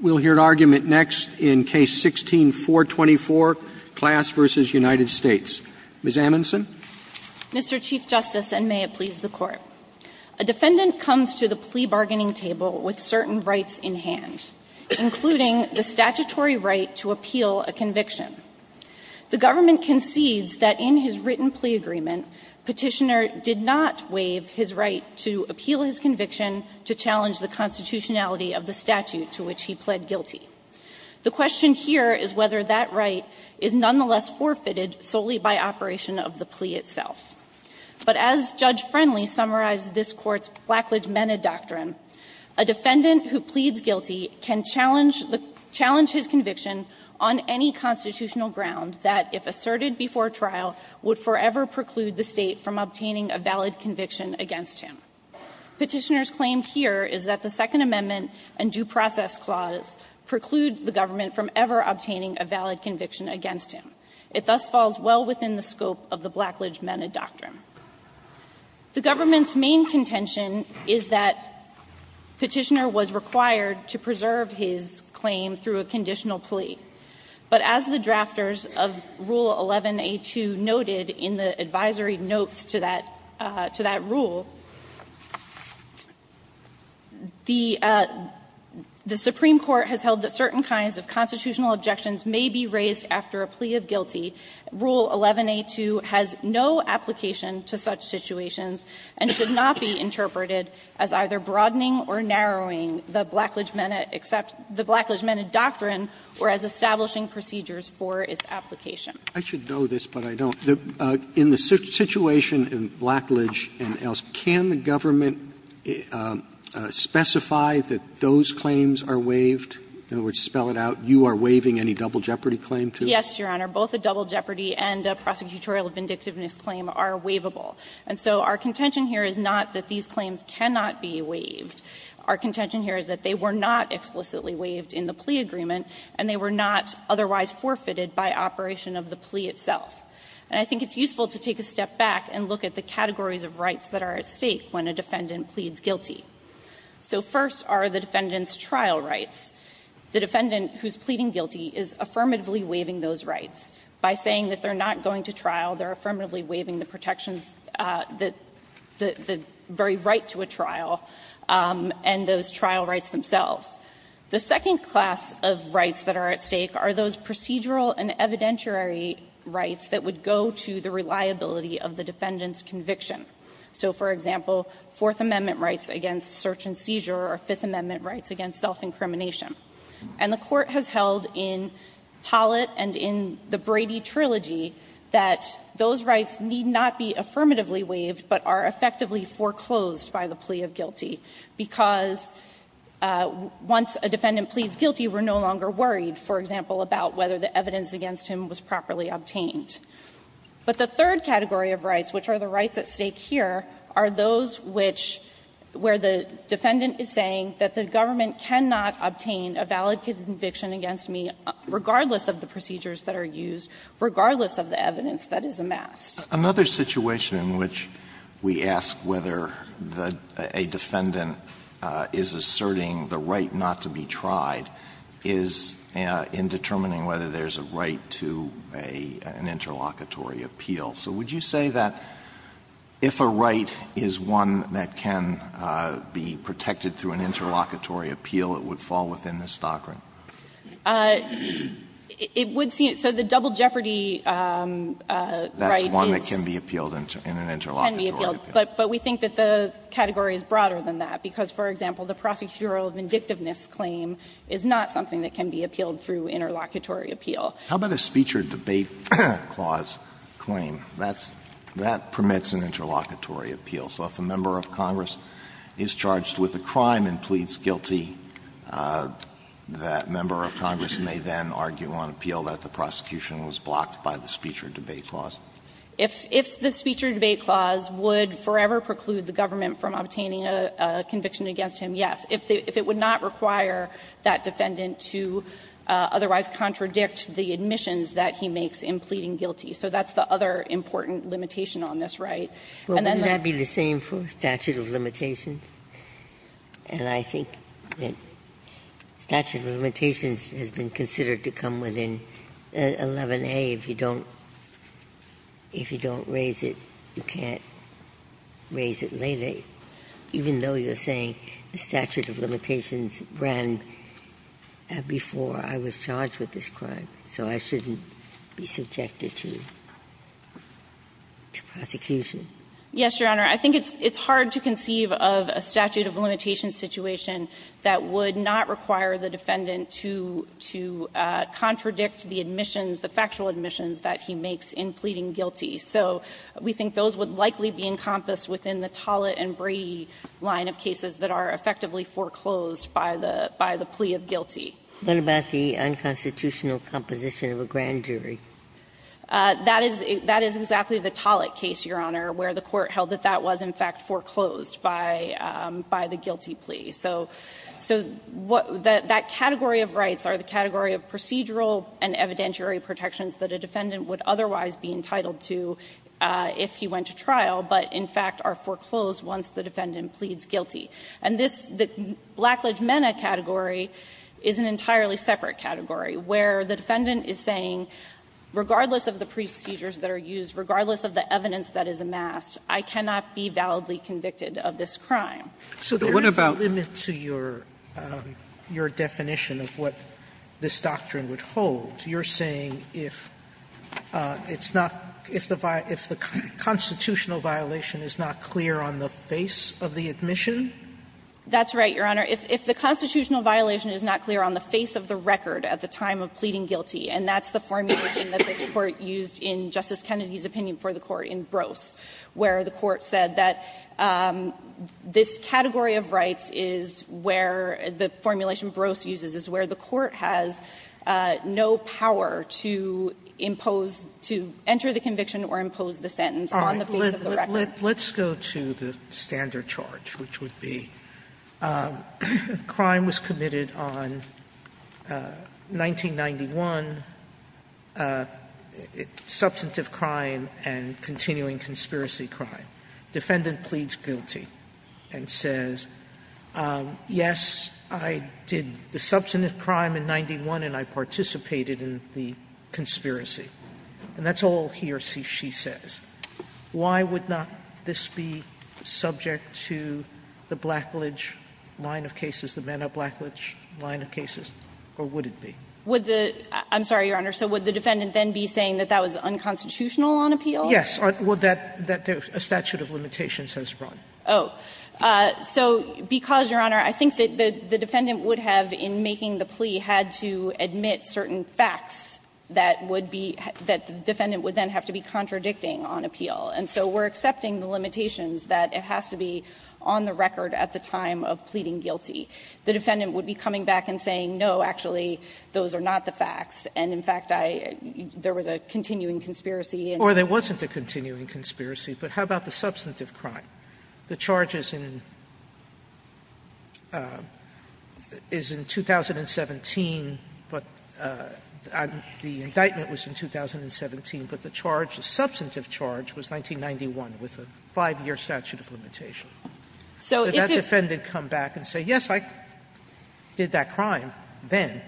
We'll hear an argument next in Case 16-424, Class v. United States. Ms. Amundson. Mr. Chief Justice, and may it please the Court. A defendant comes to the plea bargaining table with certain rights in hand, including the statutory right to appeal a conviction. The government concedes that in his written plea agreement, Petitioner did not waive his right to appeal his conviction to challenge the constitutionality of the statute to which he pled guilty. The question here is whether that right is nonetheless forfeited solely by operation of the plea itself. But as Judge Friendly summarized this Court's Placlidge-Menna doctrine, a defendant who pleads guilty can challenge his conviction on any constitutional ground that, if asserted before trial, would forever preclude the State from obtaining a valid conviction against him. Petitioner's claim here is that the Second Amendment and Due Process Clause preclude the government from ever obtaining a valid conviction against him. It thus falls well within the scope of the Placlidge-Menna doctrine. The government's main contention is that Petitioner was required to preserve his claim through a conditional plea, but as the drafters of Rule 11a2 noted in the reference to that rule, the Supreme Court has held that certain kinds of constitutional objections may be raised after a plea of guilty. Rule 11a2 has no application to such situations and should not be interpreted as either broadening or narrowing the Placlidge-Menna accept the Placlidge-Menna doctrine or as establishing procedures for its application. Roberts I should know this, but I don't. In the situation in Placlidge and else, can the government specify that those claims are waived, in other words, spell it out, you are waiving any double jeopardy claim to? Petitioner Yes, Your Honor. Both a double jeopardy and a prosecutorial vindictiveness claim are waivable. And so our contention here is not that these claims cannot be waived. Our contention here is that they were not explicitly waived in the plea agreement and they were not otherwise forfeited by operation of the plea itself. And I think it's useful to take a step back and look at the categories of rights that are at stake when a defendant pleads guilty. So first are the defendant's trial rights. The defendant who is pleading guilty is affirmatively waiving those rights. By saying that they are not going to trial, they are affirmatively waiving the protections that the very right to a trial and those trial rights themselves. The second class of rights that are at stake are those procedural and evidentiary rights that would go to the reliability of the defendant's conviction. So, for example, Fourth Amendment rights against search and seizure or Fifth Amendment rights against self-incrimination. And the Court has held in Tollett and in the Brady Trilogy that those rights need not be affirmatively waived, but are effectively foreclosed by the plea of guilty, because once a defendant pleads guilty, we are no longer worried, for example, about whether the evidence against him was properly obtained. But the third category of rights, which are the rights at stake here, are those which where the defendant is saying that the government cannot obtain a valid conviction against me regardless of the procedures that are used, regardless of the evidence that is amassed. Alitoso, another situation in which we ask whether a defendant is asserting the right not to be tried is in determining whether there is a right to an interlocutory appeal. So would you say that if a right is one that can be protected through an interlocutory appeal, it would fall within the staggering? It would seem so. So the double jeopardy right is one that can be appealed in an interlocutory appeal. But we think that the category is broader than that, because, for example, the prosecutorial vindictiveness claim is not something that can be appealed through interlocutory appeal. How about a speech or debate clause claim? That's that permits an interlocutory appeal. So if a member of Congress is charged with a crime and pleads guilty, that member of Congress may then argue on appeal that the prosecution was blocked by the speech or debate clause. If the speech or debate clause would forever preclude the government from obtaining a conviction against him, yes, if it would not require that defendant to otherwise contradict the admissions that he makes in pleading guilty. So that's the other important limitation on this right. And then the other one is the statute of limitations, and I think the statute of limitations has been considered to come within 11a. If you don't raise it, you can't raise it later, even though you're saying the statute of limitations ran before I was charged with this crime, so I shouldn't be subjected to prosecution. Yes, Your Honor. I think it's hard to conceive of a statute of limitations situation that would not require the defendant to contradict the admissions, the factual admissions that he makes in pleading guilty. So we think those would likely be encompassed within the Tollett and Brady line of cases that are effectively foreclosed by the plea of guilty. What about the unconstitutional composition of a grand jury? That is exactly the Tollett case, Your Honor, where the court held that that was in fact foreclosed by the guilty plea. So that category of rights are the category of procedural and evidentiary protections that a defendant would otherwise be entitled to if he went to trial, but in fact are foreclosed once the defendant pleads guilty. And this, the Blackledge-Mena category is an entirely separate category, where the defendant is saying, regardless of the procedures that are used, regardless of the evidence that is amassed, I cannot be validly convicted of this crime. So there is a limit to your definition of what this doctrine would hold. You're saying if it's not the constitutional violation is not clear on the face of the admission? That's right, Your Honor. If the constitutional violation is not clear on the face of the record at the time of pleading guilty, and that's the formulation that this Court used in Justice Kennedy's opinion for the Court in Brose, where the Court said that this defendant is guilty, this category of rights is where the formulation Brose uses is where the Court has no power to impose, to enter the conviction or impose the sentence on the face of the record. Sotomayor, let's go to the standard charge, which would be crime was committed on 1991, substantive crime and continuing conspiracy crime. Defendant pleads guilty and says, yes, I did the substantive crime in 91, and I participated in the conspiracy. And that's all he or she says. Why would not this be subject to the Blackledge line of cases, the Mena-Blackledge line of cases, or would it be? Would the – I'm sorry, Your Honor. So would the defendant then be saying that that was unconstitutional on appeal? Sotomayor, yes, or that a statute of limitations has run. Oh. So because, Your Honor, I think that the defendant would have, in making the plea, had to admit certain facts that would be – that the defendant would then have to be contradicting on appeal. And so we're accepting the limitations that it has to be on the record at the time of pleading guilty. The defendant would be coming back and saying, no, actually, those are not the facts, and in fact, I – there was a continuing conspiracy. Or there wasn't a continuing conspiracy, but how about the substantive crime? The charge is in – is in 2017, but the indictment was in 2017, but the charge, the substantive charge, was 1991, with a 5-year statute of limitation. So if the defendant come back and say, yes, I did that crime then.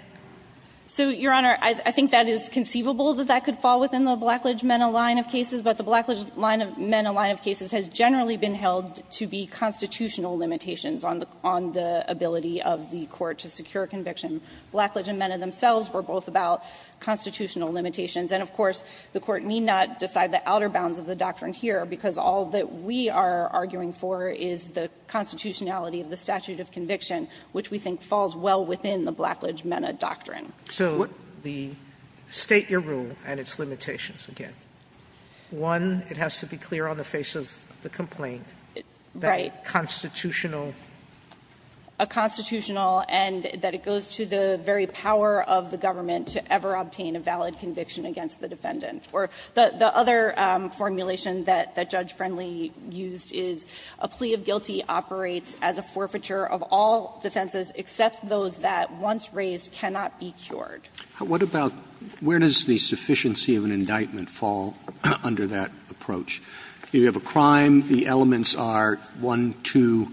So, Your Honor, I think that is conceivable, that that could fall within the Blackledge Mena line of cases, but the Blackledge Mena line of cases has generally been held to be constitutional limitations on the ability of the Court to secure conviction. Blackledge and Mena themselves were both about constitutional limitations. And, of course, the Court need not decide the outer bounds of the doctrine here, because all that we are arguing for is the constitutionality of the statute of conviction, which we think falls well within the Blackledge Mena doctrine. Sotomayor, so the State, your rule, and its limitations, again. One, it has to be clear on the face of the complaint that constitutional – A constitutional, and that it goes to the very power of the government to ever obtain a valid conviction against the defendant. Or the other formulation that Judge Friendly used is, a plea of guilty operates as a forfeiture of all defenses except those that, once raised, cannot be carried short. Roberts Where does the sufficiency of an indictment fall under that approach? You have a crime, the elements are 1, 2,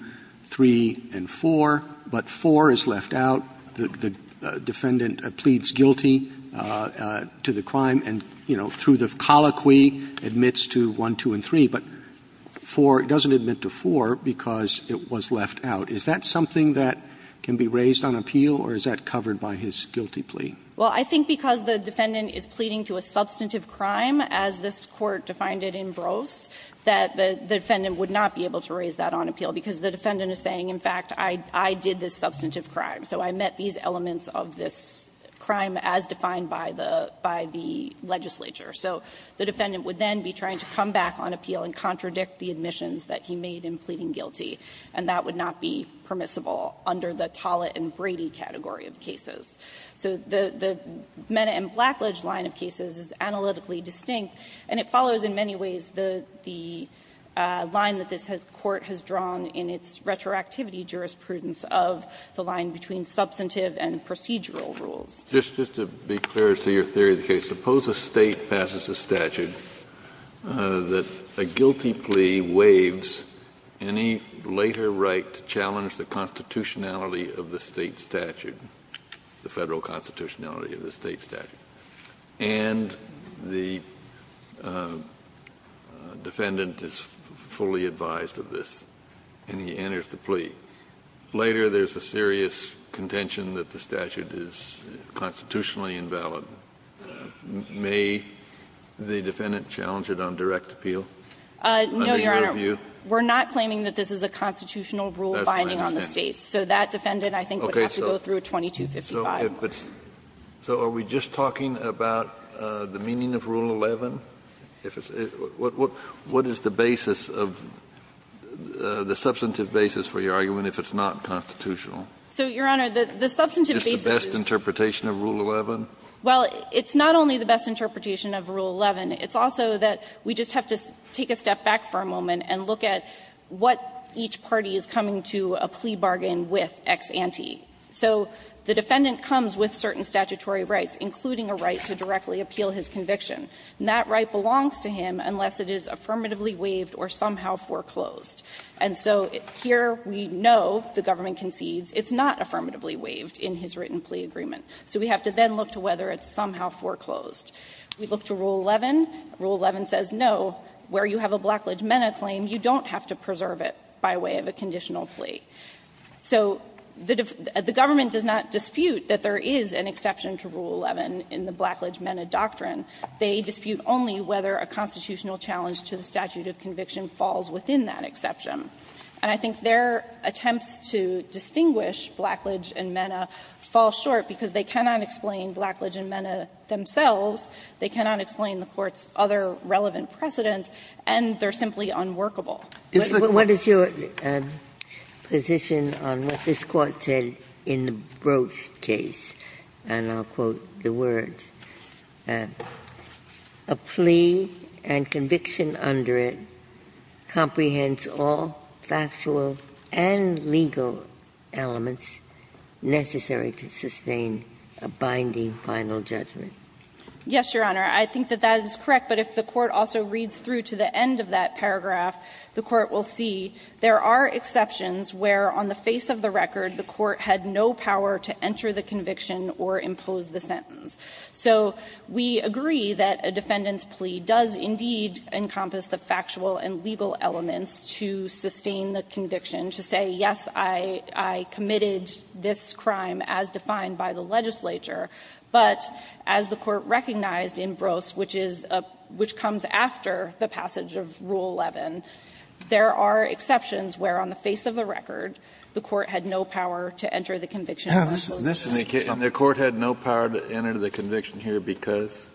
3, and 4, but 4 is left out. The defendant pleads guilty to the crime and, you know, through the colloquy, admits to 1, 2, and 3, but 4 doesn't admit to 4 because it was left out. Is that something that can be raised on appeal, or is that covered by his guilty plea? Well, I think because the defendant is pleading to a substantive crime, as this Court defined it in Brose, that the defendant would not be able to raise that on appeal, because the defendant is saying, in fact, I did this substantive crime, so I met these elements of this crime as defined by the legislature. So the defendant would then be trying to come back on appeal and contradict the admissions that he made in pleading guilty, and that would not be permissible under the Tollett and Brady category of cases. So the Mena and Blackledge line of cases is analytically distinct, and it follows in many ways the line that this Court has drawn in its retroactivity jurisprudence of the line between substantive and procedural rules. Just to be clear as to your theory of the case, suppose a State passes a statute that a guilty plea waives any later right to challenge the constitutionality of the State statute, the Federal constitutionality of the State statute, and the defendant is fully advised of this, and he enters the plea. Later, there is a serious contention that the statute is constitutionally invalid. May the defendant challenge it on direct appeal? Under your view? No, Your Honor. We're not claiming that this is a constitutional rule binding on the State. So that defendant, I think, would have to go through a 2255. So are we just talking about the meaning of Rule 11? What is the basis of the substantive basis for your argument if it's not constitutional? So, Your Honor, the substantive basis is the best interpretation of Rule 11? Well, it's not only the best interpretation of Rule 11. It's also that we just have to take a step back for a moment and look at what each party is coming to a plea bargain with ex ante. So the defendant comes with certain statutory rights, including a right to directly appeal his conviction. And that right belongs to him unless it is affirmatively waived or somehow foreclosed. And so here we know the government concedes it's not affirmatively waived in his written plea agreement. So we have to then look to whether it's somehow foreclosed. We look to Rule 11. Rule 11 says, no, where you have a Blackledge-Mena claim, you don't have to preserve it by way of a conditional plea. So the government does not dispute that there is an exception to Rule 11 in the Blackledge-Mena doctrine. They dispute only whether a constitutional challenge to the statute of conviction falls within that exception. And I think their attempts to distinguish Blackledge and Mena fall short because they cannot explain Blackledge and Mena themselves, they cannot explain the Court's other relevant precedents, and they are simply unworkable. Ginsburg, what is your position on what this Court said in the Broach case, and I'll be brief, that the plea and conviction under it comprehends all factual and legal elements necessary to sustain a binding final judgment? Yes, Your Honor. I think that that is correct, but if the Court also reads through to the end of that paragraph, the Court will see there are exceptions where, on the face of the record, the Court had no power to enter the conviction or impose the sentence. So we agree that a defendant's plea does indeed encompass the factual and legal elements to sustain the conviction, to say, yes, I committed this crime as defined by the legislature, but as the Court recognized in Broach, which is a – which comes after the passage of Rule 11, there are exceptions where, on the face of the record, the Court had no power to enter the conviction or impose the sentence. Kennedy, and the Court had no power to enter the conviction here because?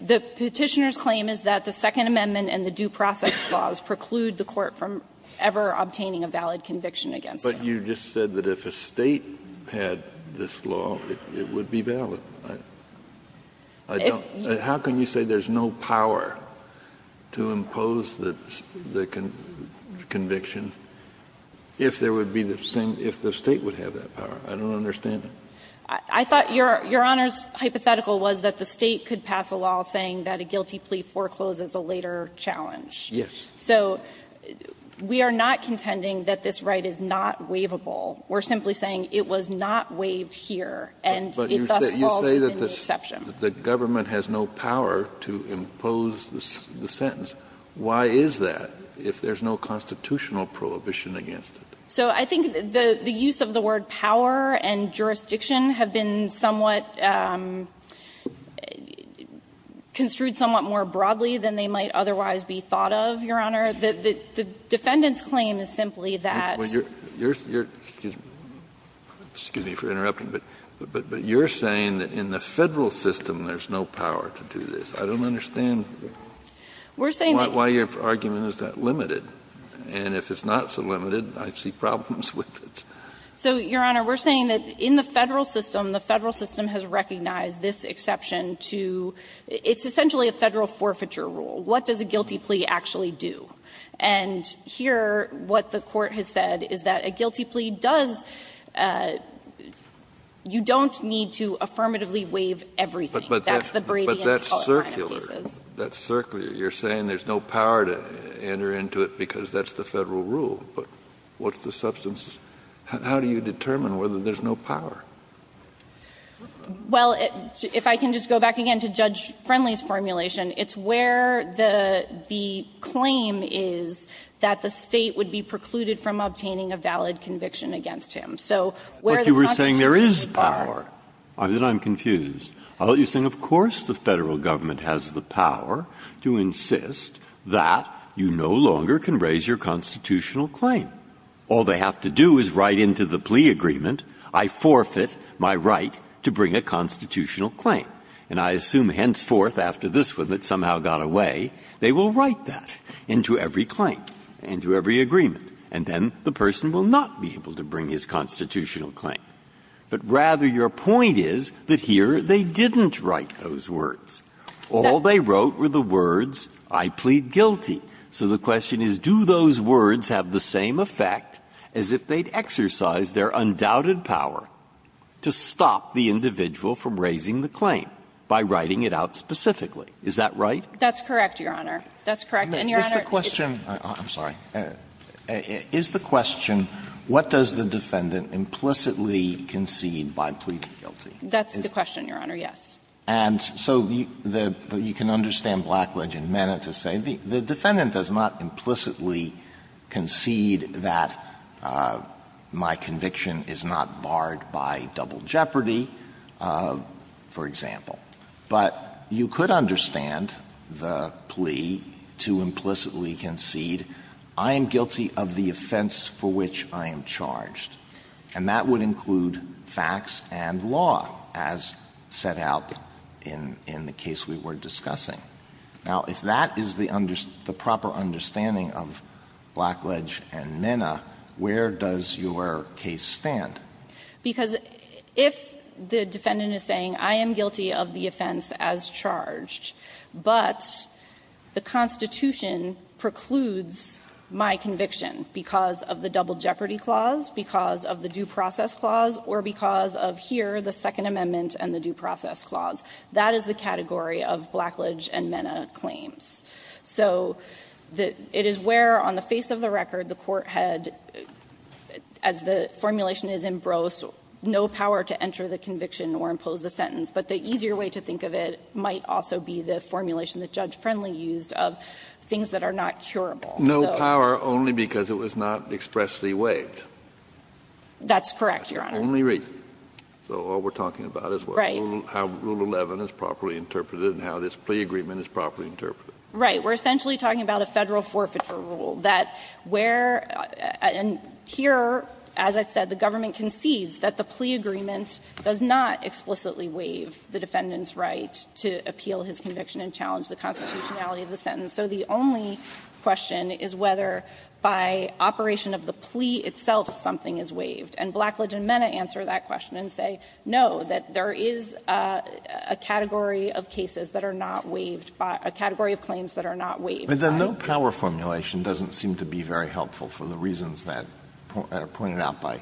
The Petitioner's claim is that the Second Amendment and the due process laws preclude the Court from ever obtaining a valid conviction against him. But you just said that if a State had this law, it would be valid. I don't – how can you say there's no power to impose the conviction if there would be the same – if the State would have that power? I don't understand it. I thought Your Honor's hypothetical was that the State could pass a law saying that a guilty plea forecloses a later challenge. Yes. So we are not contending that this right is not waivable. We're simply saying it was not waived here, and it thus falls within the exception. But you say that the government has no power to impose the sentence. Why is that if there's no constitutional prohibition against it? So I think the use of the word power and jurisdiction have been somewhat construed somewhat more broadly than they might otherwise be thought of, Your Honor. The defendant's claim is simply that you're – excuse me for interrupting, but you're saying that in the Federal system there's no power to do this. I don't understand why your argument is that limited. And if it's not so limited, I see problems with it. So, Your Honor, we're saying that in the Federal system, the Federal system has recognized this exception to – it's essentially a Federal forfeiture rule. What does a guilty plea actually do? And here what the Court has said is that a guilty plea does – you don't need to affirmatively waive everything. But that's circular. You're saying there's no power to enter into it because that's the Federal rule. But what's the substance? How do you determine whether there's no power? Well, if I can just go back again to Judge Friendly's formulation, it's where the claim is that the State would be precluded from obtaining a valid conviction against him. So where the constitutional prohibition is not there. But you were saying there is power. Then I'm confused. I'll let you think, of course the Federal Government has the power to insist that you no longer can raise your constitutional claim. All they have to do is write into the plea agreement, I forfeit my right to bring a constitutional claim. And I assume henceforth after this one that somehow got away, they will write that into every claim, into every agreement. And then the person will not be able to bring his constitutional claim. But rather your point is that here they didn't write those words. All they wrote were the words, I plead guilty. So the question is, do those words have the same effect as if they'd exercise their undoubted power to stop the individual from raising the claim by writing it out specifically. Is that right? That's correct, Your Honor. That's correct. And, Your Honor, it's the question. I'm sorry. Is the question, what does the defendant implicitly concede by pleading guilty? That's the question, Your Honor, yes. And so you can understand Blackledge and Mena to say the defendant does not implicitly concede that my conviction is not barred by double jeopardy, for example. But you could understand the plea to implicitly concede, I am guilty of the offense for which I am charged. And that would include facts and law, as set out in the case we were discussing. Now, if that is the proper understanding of Blackledge and Mena, where does your case stand? Because if the defendant is saying, I am guilty of the offense as charged, but the Constitution precludes my conviction because of the double jeopardy clause, because of the due process clause, or because of here, the Second Amendment and the due process clause, that is the category of Blackledge and Mena claims. So it is where, on the face of the record, the court had, as the formulation is in Brose, no power to enter the conviction or impose the sentence. But the easier way to think of it might also be the formulation that Judge Friendly used of things that are not curable. So no power only because it was not expressly waived. That's correct, Your Honor. Only reason. So all we're talking about is how Rule 11 is properly interpreted and how this plea agreement is properly interpreted. Right. We're essentially talking about a Federal forfeiture rule, that where and here, as I've said, the government concedes that the plea agreement does not explicitly waive the defendant's right to appeal his conviction and challenge the constitutionality of the sentence. So the only question is whether by operation of the plea itself something is waived. And Blackledge and Mena answer that question and say, no, that there is a category of cases that are not waived, a category of claims that are not waived. But the no power formulation doesn't seem to be very helpful for the reasons that are pointed out by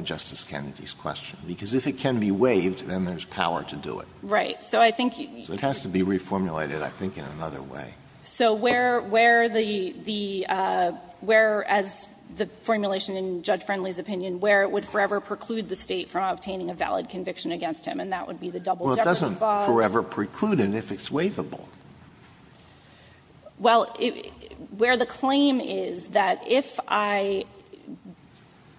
Justice Kennedy's question. Because if it can be waived, then there's power to do it. Right. So I think you need to be reformulated, I think, in another way. So where the – where, as the formulation in Judge Friendly's opinion, where it would forever preclude the State from obtaining a valid conviction against him, and that would be the double-decker clause. Well, it doesn't forever preclude it if it's waivable. Well, where the claim is that if I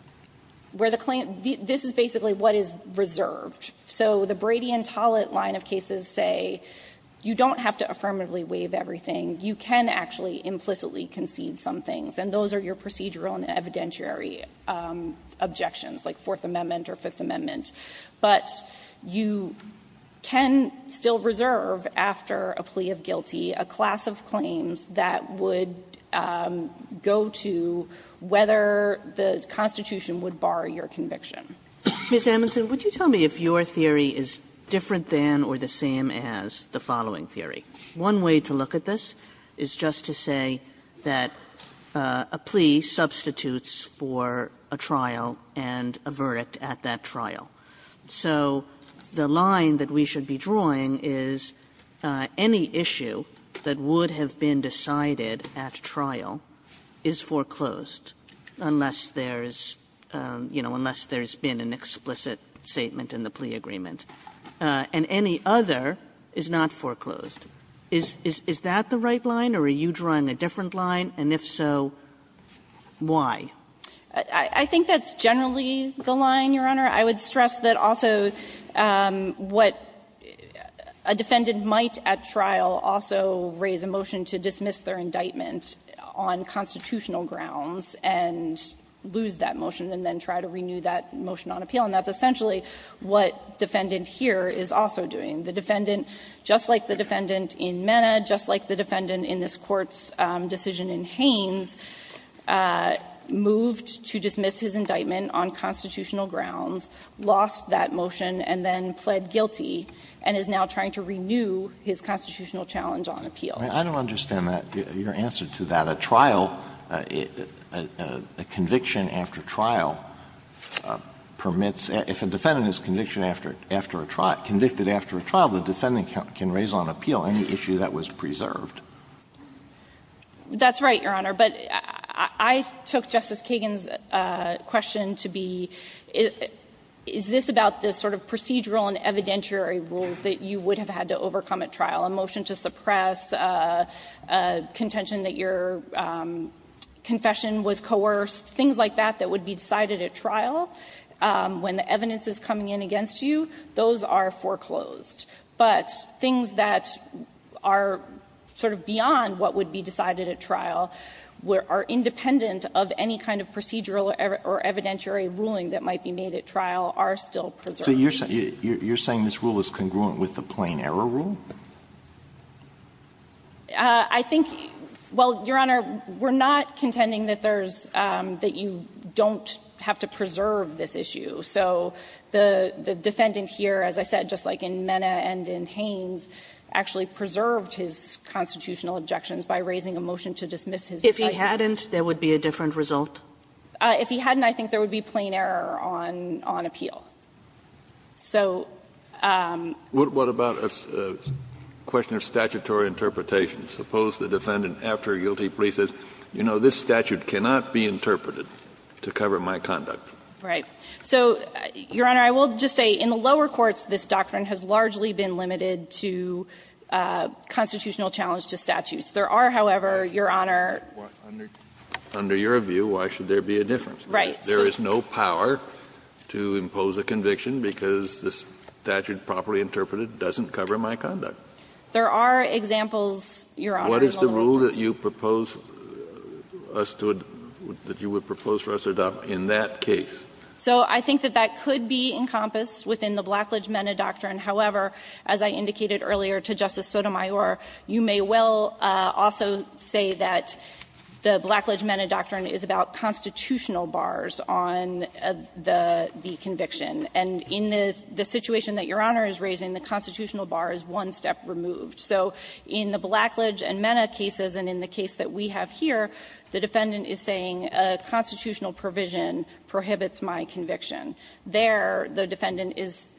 – where the claim – this is basically what is reserved. So the Brady and Tollett line of cases say you don't have to affirmatively waive everything. You can actually implicitly concede some things, and those are your procedural and evidentiary objections, like Fourth Amendment or Fifth Amendment. But you can still reserve, after a plea of guilty, a class of claims that would go to whether the Constitution would bar your conviction. Kagan, Ms. Amundson, would you tell me if your theory is different than or the same as the following theory? One way to look at this is just to say that a plea substitutes for a trial and a verdict at that trial. So the line that we should be drawing is any issue that would have been decided at trial is foreclosed unless there's, you know, unless there's been an explicit statement in the plea agreement, and any other is not foreclosed. Is that the right line, or are you drawing a different line, and if so, why? I think that's generally the line, Your Honor. I would stress that also what a defendant might at trial also raise a motion to dismiss their indictment on constitutional grounds and lose that motion and then try to renew that motion on appeal, and that's essentially what defendant here is also doing. The defendant, just like the defendant in Mena, just like the defendant in this Court's decision in Haynes, moved to dismiss his indictment on constitutional grounds, lost that motion, and then pled guilty, and is now trying to renew his constitutional challenge on appeal. Alito, I don't understand that, your answer to that. A trial, a conviction after trial permits, if a defendant is convicted after a trial, the defendant can raise on appeal any issue that was preserved. That's right, Your Honor. But I took Justice Kagan's question to be, is this about the sort of procedural and evidentiary rules that you would have had to overcome at trial, a motion to suppress a contention that your confession was coerced, things like that that would be decided at trial when the evidence is coming in against you, those are foreclosed. But things that are sort of beyond what would be decided at trial are independent of any kind of procedural or evidentiary ruling that might be made at trial are still preserved. So you're saying this rule is congruent with the plain error rule? I think, well, Your Honor, we're not contending that there's that you don't have to preserve this issue. So the defendant here, as I said, just like in Mena and in Haynes, actually preserved his constitutional objections by raising a motion to dismiss his indictments. If he hadn't, there would be a different result? If he hadn't, I think there would be plain error on appeal. So the statute cannot be interpreted to cover my conduct. Right. So, Your Honor, I will just say in the lower courts, this doctrine has largely been limited to constitutional challenge to statutes. There are, however, Your Honor. Under your view, why should there be a difference? Right. There is no power to impose a conviction because the statute properly interpreted doesn't cover my conduct. There are examples, Your Honor, in the lower courts. What is the rule that you propose us to adopt, that you would propose for us to adopt in that case? So I think that that could be encompassed within the Blackledge-Mena doctrine. However, as I indicated earlier to Justice Sotomayor, you may well also say that the Blackledge-Mena doctrine is about constitutional bars on the conviction. And in the situation that Your Honor is raising, the constitutional bar is one step removed. So in the Blackledge and Mena cases, and in the case that we have here, the defendant is saying a constitutional provision prohibits my conviction. There, the defendant is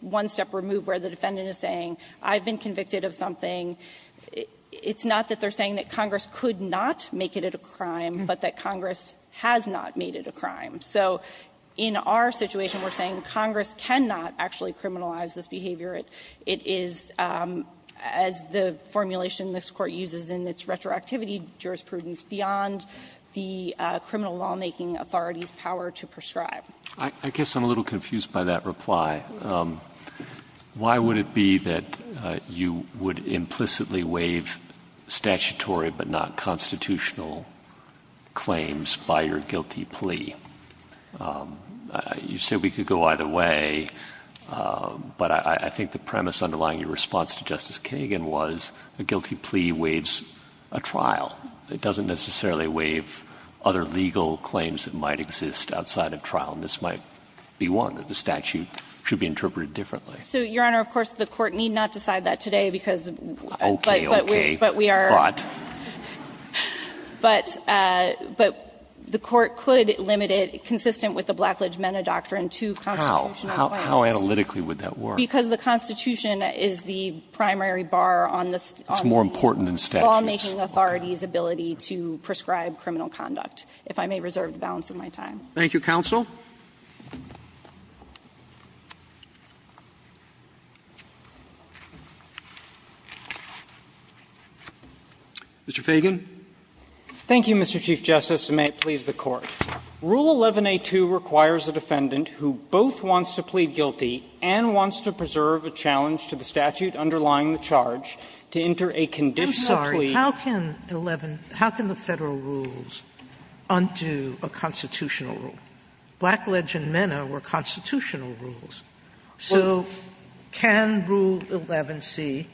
one step removed, where the defendant is saying I've been convicted of something. It's not that they're saying that Congress could not make it a crime, but that Congress has not made it a crime. So in our situation, we're saying Congress cannot actually criminalize this behavior. It is, as the formulation this Court uses in its retroactivity jurisprudence, beyond the criminal lawmaking authority's power to prescribe. I guess I'm a little confused by that reply. Why would it be that you would implicitly waive statutory but not constitutional claims by your guilty plea? You say we could go either way, but I think the premise underlying your response to Justice Kagan was a guilty plea waives a trial. It doesn't necessarily waive other legal claims that might exist outside of trial. And this might be one that the statute should be interpreted differently. So, Your Honor, of course, the Court need not decide that today, because we are brought. But the Court could limit it, consistent with the Blackledge-Mena doctrine, to constitutional claims. How? How analytically would that work? Because the Constitution is the primary bar on the lawmaking authorities ability to prescribe criminal conduct, if I may reserve the balance of my time. Thank you, counsel. Mr. Feigin. Thank you, Mr. Chief Justice, and may it please the Court. Rule 11a2 requires a defendant who both wants to plead guilty and wants to preserve a challenge to the statute underlying the charge to enter a conditional plea. Sotomayor, I'm sorry, how can 11 – how can the Federal rules undo a constitutional rule? Blackledge and Mena were constitutional rules. So can Rule 11c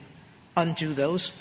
undo those?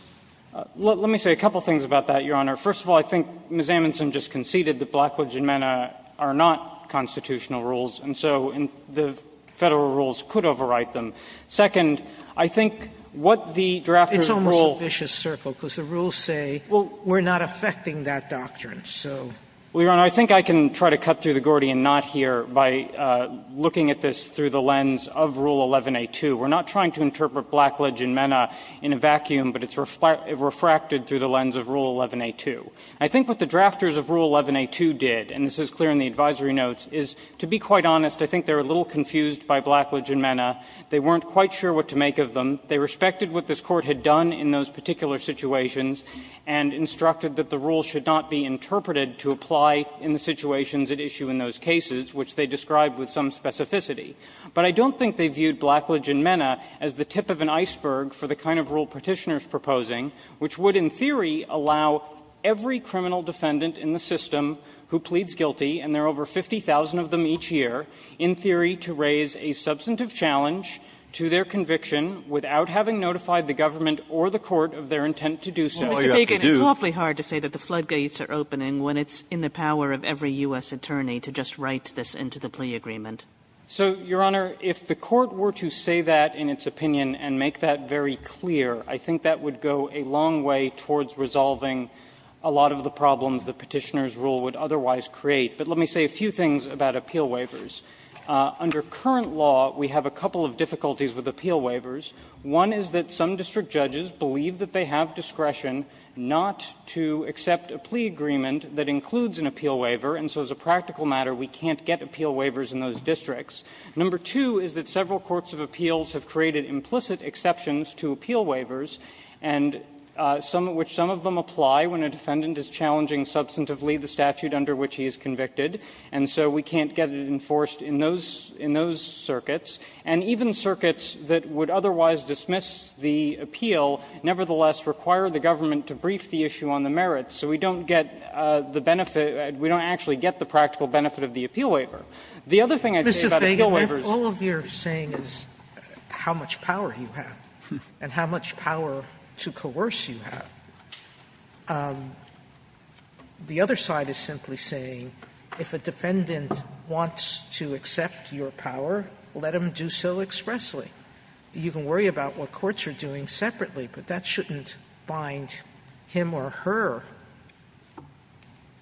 Let me say a couple of things about that, Your Honor. First of all, I think Ms. Amundson just conceded that Blackledge and Mena are not constitutional rules, and so the Federal rules could overwrite them. Second, I think what the drafters of the rule – Sotomayor, it's almost a vicious circle, because the rules say, well, we're not affecting that doctrine, so. Well, Your Honor, I think I can try to cut through the Gordian knot here by looking at this through the lens of Rule 11a2. We're not trying to interpret Blackledge and Mena in a vacuum, but it's refracted through the lens of Rule 11a2. I think what the drafters of Rule 11a2 did, and this is clear in the advisory notes, is, to be quite honest, I think they were a little confused by Blackledge and Mena. They weren't quite sure what to make of them. They respected what this Court had done in those particular situations and instructed that the rules should not be interpreted to apply in the situations at issue in those cases, which they described with some specificity. But I don't think they viewed Blackledge and Mena as the tip of an iceberg for the kind of rule Petitioner is proposing, which would, in theory, allow every criminal defendant in the system who pleads guilty, and there are over 50,000 of them each year, in theory, to raise a substantive challenge to their conviction without having notified the government or the court of their intent to do so. Kagan, it's awfully hard to say that the floodgates are opening when it's in the power of every U.S. attorney to just write this into the plea agreement. So, Your Honor, if the Court were to say that in its opinion and make that very clear, I think that would go a long way towards resolving a lot of the problems that Petitioner's rule would otherwise create. But let me say a few things about appeal waivers. Under current law, we have a couple of difficulties with appeal waivers. One is that some district judges believe that they have discretion not to accept a plea agreement that includes an appeal waiver, and so as a practical matter, we can't get appeal waivers in those districts. Number two is that several courts of appeals have created implicit exceptions to appeal waivers, and some of which some of them apply when a defendant is challenging substantively the statute under which he is convicted, and so we can't get it enforced in those circuits, and even circuits that would otherwise dismiss the appeal nevertheless require the government to brief the issue on the merits, so we don't get the benefit – we don't actually get the practical benefit of the appeal waiver. The other thing I'd say about appeal waivers is that if all of your saying is how much power you have and how much power to coerce you have, the other side is simply saying, if a defendant wants to accept your power, let him do so expressly. You can worry about what courts are doing separately, but that shouldn't bind him or her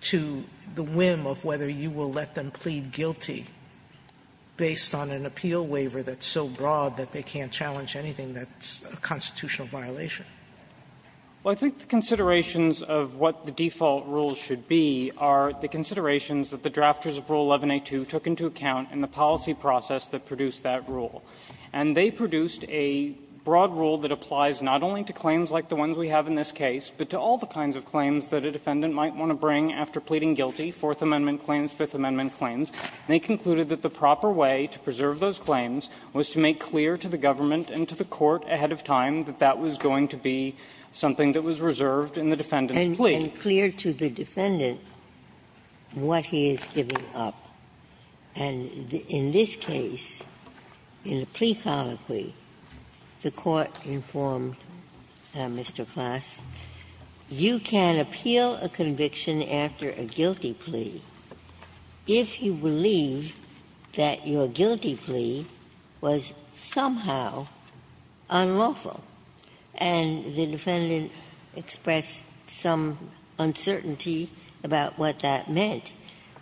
to the whim of whether you will let them plead guilty based on an appeal waiver that's so broad that they can't challenge anything that's a constitutional violation. Well, I think the considerations of what the default rules should be are the considerations that the drafters of Rule 11a2 took into account in the policy process that produced that rule. And they produced a broad rule that applies not only to claims like the ones we have in this case, but to all the kinds of claims that a defendant might want to bring after pleading guilty, Fourth Amendment claims, Fifth Amendment claims, and they concluded that the proper way to preserve those claims was to make clear to the government and to the court ahead of time that that was going to be something that was reserved in the defendant's plea. Ginsburg. And clear to the defendant what he is giving up. And in this case, in the plea colloquy, the court informed Mr. Klaas, you can appeal a conviction after a guilty plea if you believe that your guilty plea was somehow unlawful. And the defendant expressed some uncertainty about what that meant.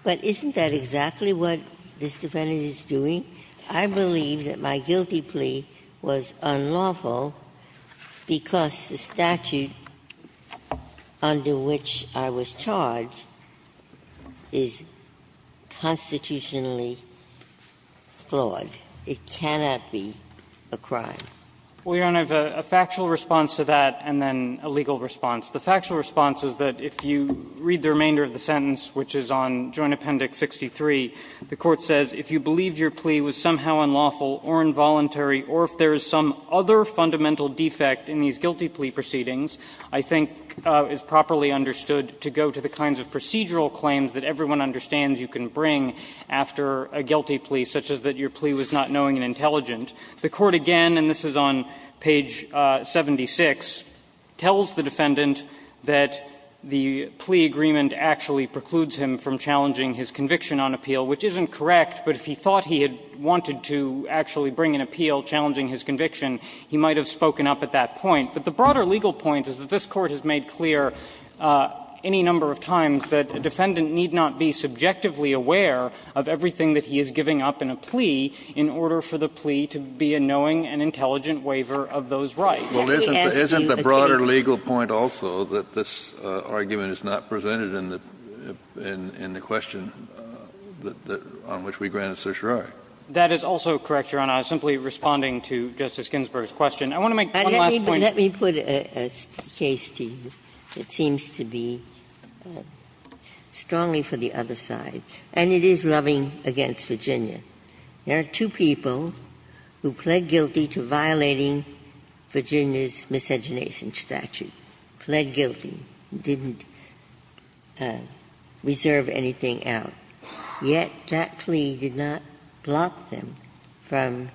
But isn't that exactly what this defendant is doing? I believe that my guilty plea was unlawful because the statute under which I was charged is constitutionally flawed. It cannot be a crime. Feigin. Well, Your Honor, a factual response to that and then a legal response. The factual response is that if you read the remainder of the sentence, which is on Joint Appendix 63, the court says if you believe your plea was somehow unlawful or involuntary or if there is some other fundamental defect in these guilty plea proceedings, I think it's properly understood to go to the kinds of procedural claims that everyone understands you can bring after a guilty plea, such as that your guilty plea was not knowing and intelligent. The court again, and this is on page 76, tells the defendant that the plea agreement actually precludes him from challenging his conviction on appeal, which isn't correct. But if he thought he had wanted to actually bring an appeal challenging his conviction, he might have spoken up at that point. But the broader legal point is that this Court has made clear any number of times that a defendant need not be subjectively aware of everything that he is giving up in a plea in order for the plea to be a knowing and intelligent waiver of those rights. Kennedy, I ask you again. Kennedy, isn't the broader legal point also that this argument is not presented in the question on which we granted certiorari? That is also correct, Your Honor. I was simply responding to Justice Ginsburg's question. I want to make one last point. Ginsburg, let me put a case to you that seems to be strongly for the other side, and it is loving against Virginia. There are two people who pled guilty to violating Virginia's miscegenation statute, pled guilty, didn't reserve anything out. Yet that plea did not block them from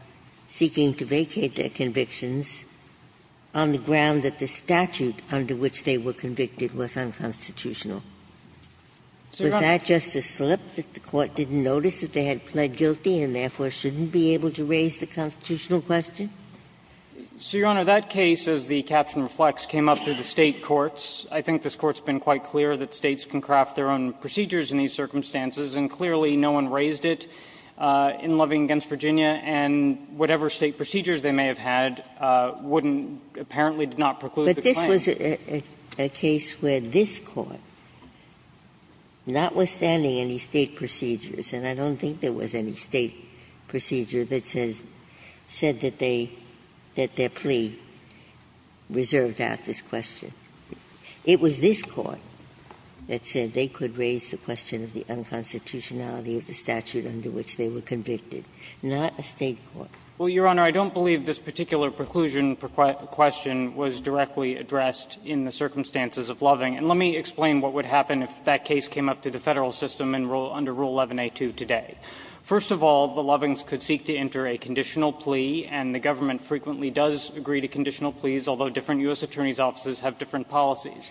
seeking to vacate their convictions on the ground that the statute under which they were convicted was unconstitutional. Was that just a slip that the Court didn't notice that they had pled guilty and therefore shouldn't be able to raise the constitutional question? So, Your Honor, that case, as the caption reflects, came up through the State courts. I think this Court's been quite clear that States can craft their own procedures in these circumstances, and clearly no one raised it in loving against Virginia, and whatever State procedures they may have had wouldn't – apparently did not preclude the claim. Ginsburg. It was a case where this Court, notwithstanding any State procedures, and I don't think there was any State procedure that said that they – that their plea reserved out this question. It was this Court that said they could raise the question of the unconstitutionality of the statute under which they were convicted, not a State court. Well, Your Honor, I don't believe this particular preclusion question was directly addressed in the circumstances of loving, and let me explain what would happen if that case came up through the Federal system under Rule 11a2 today. First of all, the lovings could seek to enter a conditional plea, and the government frequently does agree to conditional pleas, although different U.S. attorneys' offices have different policies.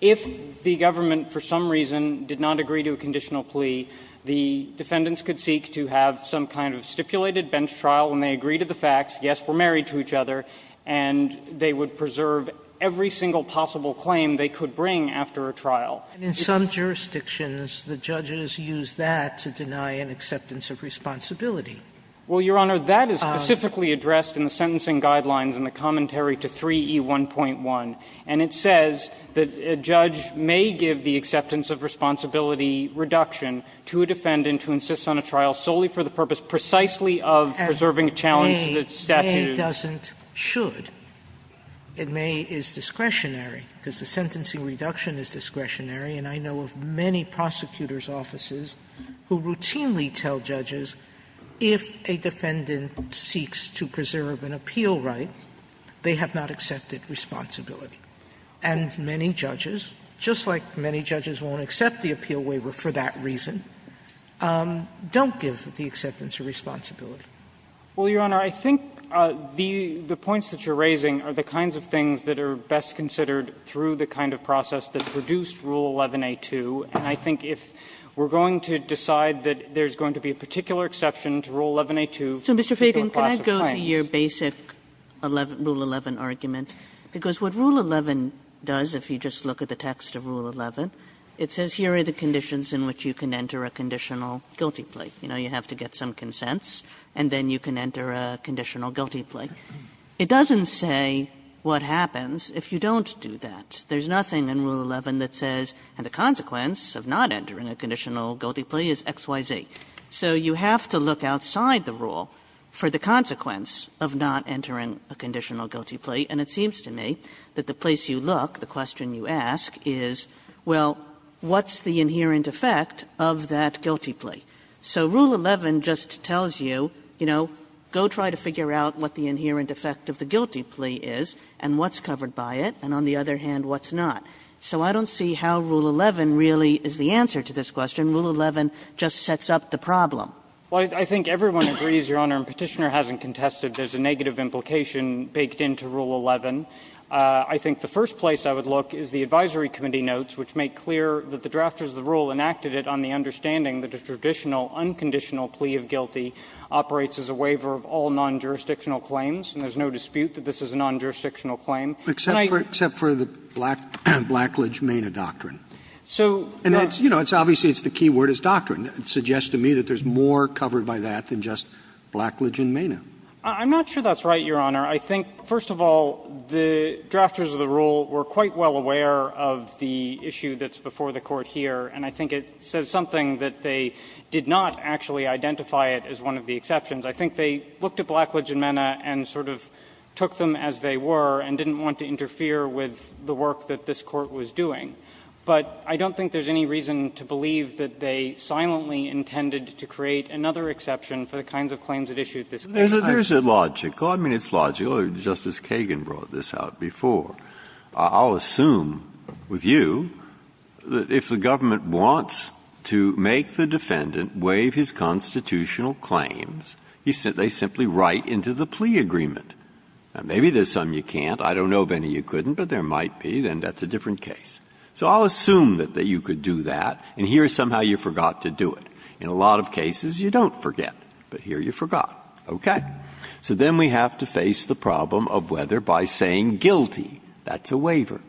If the government, for some reason, did not agree to a conditional plea, the defendants could seek to have some kind of stipulated bench trial, and they agree to the facts. Yes, we're married to each other, and they would preserve every single possible claim they could bring after a trial. And in some jurisdictions, the judges use that to deny an acceptance of responsibility. Well, Your Honor, that is specifically addressed in the sentencing guidelines in the commentary to 3E1.1, and it says that a judge may give the acceptance of responsibility reduction to a defendant who insists on a trial solely for the purpose precisely of preserving a challenge to the statute. Sotomayor, a doesn't should. It may is discretionary, because the sentencing reduction is discretionary, and I know of many prosecutors' offices who routinely tell judges if a defendant seeks to preserve an appeal right, they have not accepted responsibility. And many judges, just like many judges won't accept the appeal waiver for that reason, don't give the acceptance of responsibility. Well, Your Honor, I think the points that you're raising are the kinds of things that are best considered through the kind of process that produced Rule 11a2. And I think if we're going to decide that there's going to be a particular exception to Rule 11a2 for a particular class of clients. Kagan, I want to go back to your basic Rule 11 argument, because what Rule 11 does, if you just look at the text of Rule 11, it says here are the conditions in which you can enter a conditional guilty plea. You know, you have to get some consents, and then you can enter a conditional guilty plea. It doesn't say what happens if you don't do that. There's nothing in Rule 11 that says, and the consequence of not entering a conditional guilty plea is X, Y, Z. So you have to look outside the rule for the consequence of not entering a conditional guilty plea. And it seems to me that the place you look, the question you ask is, well, what's the inherent effect of that guilty plea? So Rule 11 just tells you, you know, go try to figure out what the inherent effect of the guilty plea is and what's covered by it, and on the other hand, what's not. So I don't see how Rule 11 really is the answer to this question. Rule 11 just sets up the problem. Feigin. Well, I think everyone agrees, Your Honor, and Petitioner hasn't contested there's a negative implication baked into Rule 11. I think the first place I would look is the advisory committee notes, which make clear that the drafters of the rule enacted it on the understanding that a traditional unconditional plea of guilty operates as a waiver of all non-jurisdictional claims, and there's no dispute that this is a non-jurisdictional claim. And I think that's the case. Sotomayor, except for the Blackledge-Mana doctrine. So, no. Obviously, it's the key word is doctrine. It suggests to me that there's more covered by that than just Blackledge-Mana. I'm not sure that's right, Your Honor. I think, first of all, the drafters of the rule were quite well aware of the issue that's before the Court here, and I think it says something that they did not actually identify it as one of the exceptions. I think they looked at Blackledge-Mana and sort of took them as they were and didn't want to interfere with the work that this Court was doing. But I don't think there's any reason to believe that they silently intended to create another exception for the kinds of claims that issued this case. Breyer. There's a logical – I mean, it's logical, or Justice Kagan brought this out before. I'll assume with you that if the government wants to make the defendant waive his constitutional claims, they simply write into the plea agreement. Now, maybe there's some you can't. I don't know of any you couldn't, but there might be, then that's a different case. So I'll assume that you could do that, and here somehow you forgot to do it. In a lot of cases you don't forget, but here you forgot. Okay. So then we have to face the problem of whether by saying guilty, that's a waiver.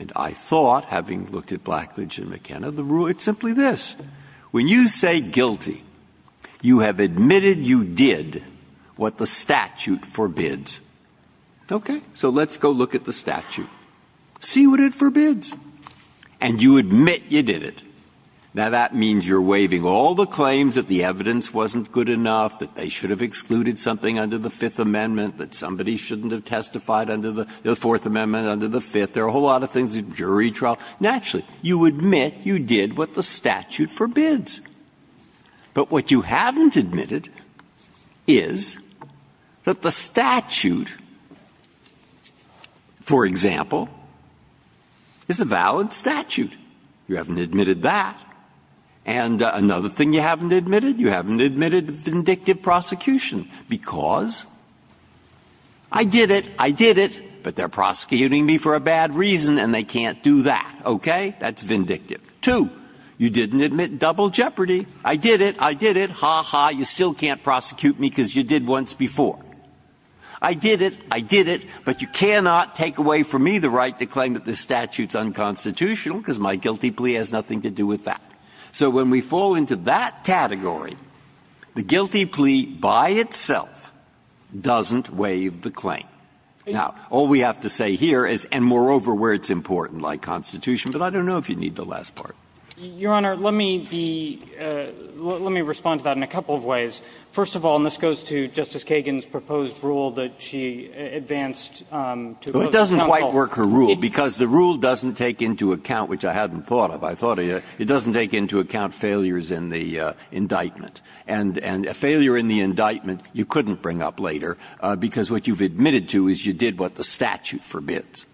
And I thought, having looked at Blackledge and McKenna, the rule, it's simply this. When you say guilty, you have admitted you did what the statute forbids. Okay? So let's go look at the statute. See what it forbids. And you admit you did it. Now, that means you're waiving all the claims that the evidence wasn't good enough, that they should have excluded something under the Fifth Amendment, that somebody shouldn't have testified under the Fourth Amendment, under the Fifth. There are a whole lot of things, jury trial. Naturally, you admit you did what the statute forbids. But what you haven't admitted is that the statute, for example, is a very simple and valid statute. You haven't admitted that. And another thing you haven't admitted, you haven't admitted vindictive prosecution because I did it, I did it, but they're prosecuting me for a bad reason and they can't do that. Okay? That's vindictive. Two, you didn't admit double jeopardy. I did it, I did it. Ha, ha, you still can't prosecute me because you did once before. I did it, I did it, but you cannot take away from me the right to claim that this is unconstitutional because my guilty plea has nothing to do with that. So when we fall into that category, the guilty plea by itself doesn't waive the claim. Now, all we have to say here is, and moreover where it's important, like Constitution, but I don't know if you need the last part. Your Honor, let me be the – let me respond to that in a couple of ways. First of all, and this goes to Justice Kagan's proposed rule that she advanced to oppose counsel. It doesn't quite work her rule, because the rule doesn't take into account, which I hadn't thought of. It doesn't take into account failures in the indictment, and a failure in the indictment you couldn't bring up later because what you've admitted to is you did what the statute forbids.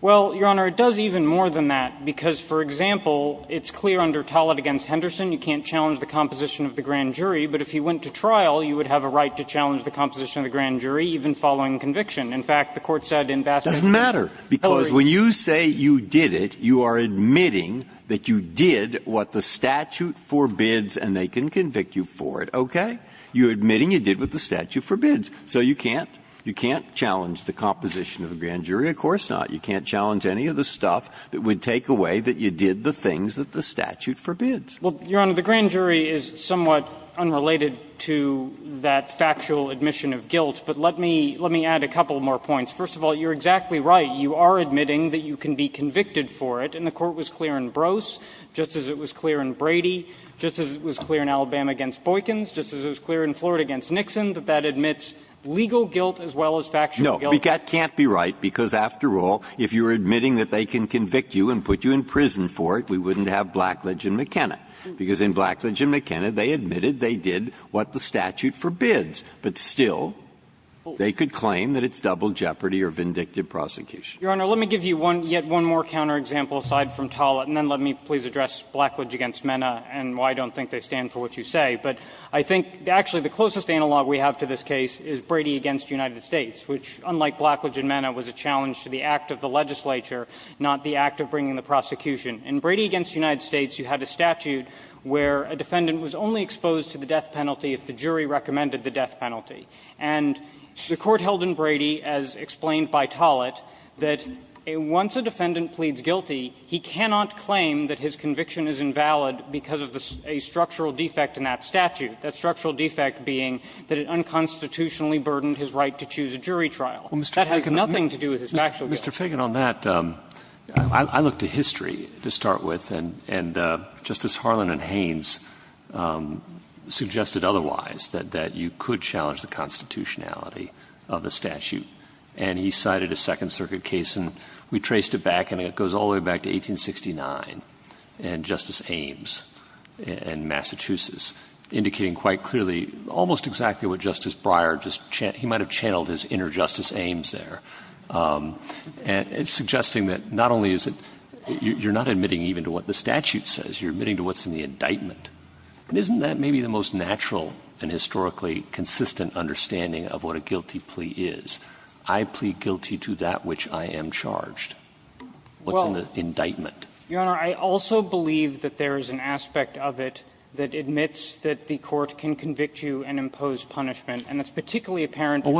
Well, Your Honor, it does even more than that, because, for example, it's clear under Tollett v. Henderson you can't challenge the composition of the grand jury, but if you went to trial, you would have a right to challenge the composition of the grand jury even following conviction. In fact, the Court said in Bassett v. Hillary. Breyer, It doesn't matter, because when you say you did it, you are admitting that you did what the statute forbids and they can convict you for it, okay? You're admitting you did what the statute forbids, so you can't – you can't challenge the composition of the grand jury. Of course not. You can't challenge any of the stuff that would take away that you did the things that the statute forbids. Well, Your Honor, the grand jury is somewhat unrelated to that factual admission of guilt. But let me – let me add a couple more points. First of all, you're exactly right. You are admitting that you can be convicted for it, and the Court was clear in Brose just as it was clear in Brady, just as it was clear in Alabama against Boykins, just as it was clear in Florida against Nixon, that that admits legal guilt as well as factual guilt. No. That can't be right, because, after all, if you're admitting that they can convict you and put you in prison for it, we wouldn't have Blackledge and McKenna, because in Blackledge and McKenna, they admitted they did what the statute forbids. But still, they could claim that it's double jeopardy or vindictive prosecution. Your Honor, let me give you one – yet one more counter-example aside from Tollett, and then let me please address Blackledge against McKenna and why I don't think they stand for what you say. But I think actually the closest analog we have to this case is Brady against United States, which, unlike Blackledge and McKenna, was a challenge to the act of the legislature, not the act of bringing the prosecution. In Brady against United States, you had a statute where a defendant was only exposed to the death penalty if the jury recommended the death penalty. And the Court held in Brady, as explained by Tollett, that once a defendant pleads guilty, he cannot claim that his conviction is invalid because of a structural defect in that statute, that structural defect being that it unconstitutionally burdened his right to choose a jury trial. That has nothing to do with his factual guilt. Mr. Fagan, on that, I look to history to start with, and Justice Harlan and Haynes suggested otherwise, that you could challenge the constitutionality of a statute. And he cited a Second Circuit case, and we traced it back, and it goes all the way back to 1869 and Justice Ames in Massachusetts, indicating quite clearly almost exactly what Justice Breyer just channeled. He might have channeled his inner Justice Ames there, suggesting that not only is it you're not admitting even to what the statute says, you're admitting to what's in the indictment. But isn't that maybe the most natural and historically consistent understanding of what a guilty plea is? I plead guilty to that which I am charged. What's in the indictment? Well, Your Honor, I also believe that there is an aspect of it that admits that the Court can convict you and impose punishment, and it's particularly apparent in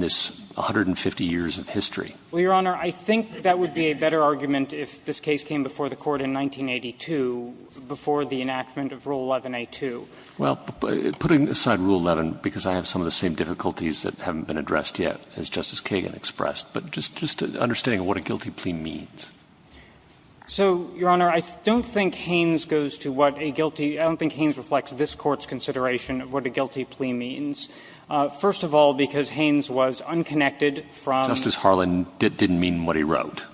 this 150 years of history. Well, Your Honor, I think that would be a better argument if this case came before the Court in 1982, before the enactment of Rule 11a-2. Well, putting aside Rule 11, because I have some of the same difficulties that haven't been addressed yet, as Justice Kagan expressed, but just understanding what a guilty plea means. So, Your Honor, I don't think Haynes goes to what a guilty – I don't think Haynes reflects this Court's consideration of what a guilty plea means. First of all, because Haynes was unconnected from – Justice Harlan didn't mean what he wrote.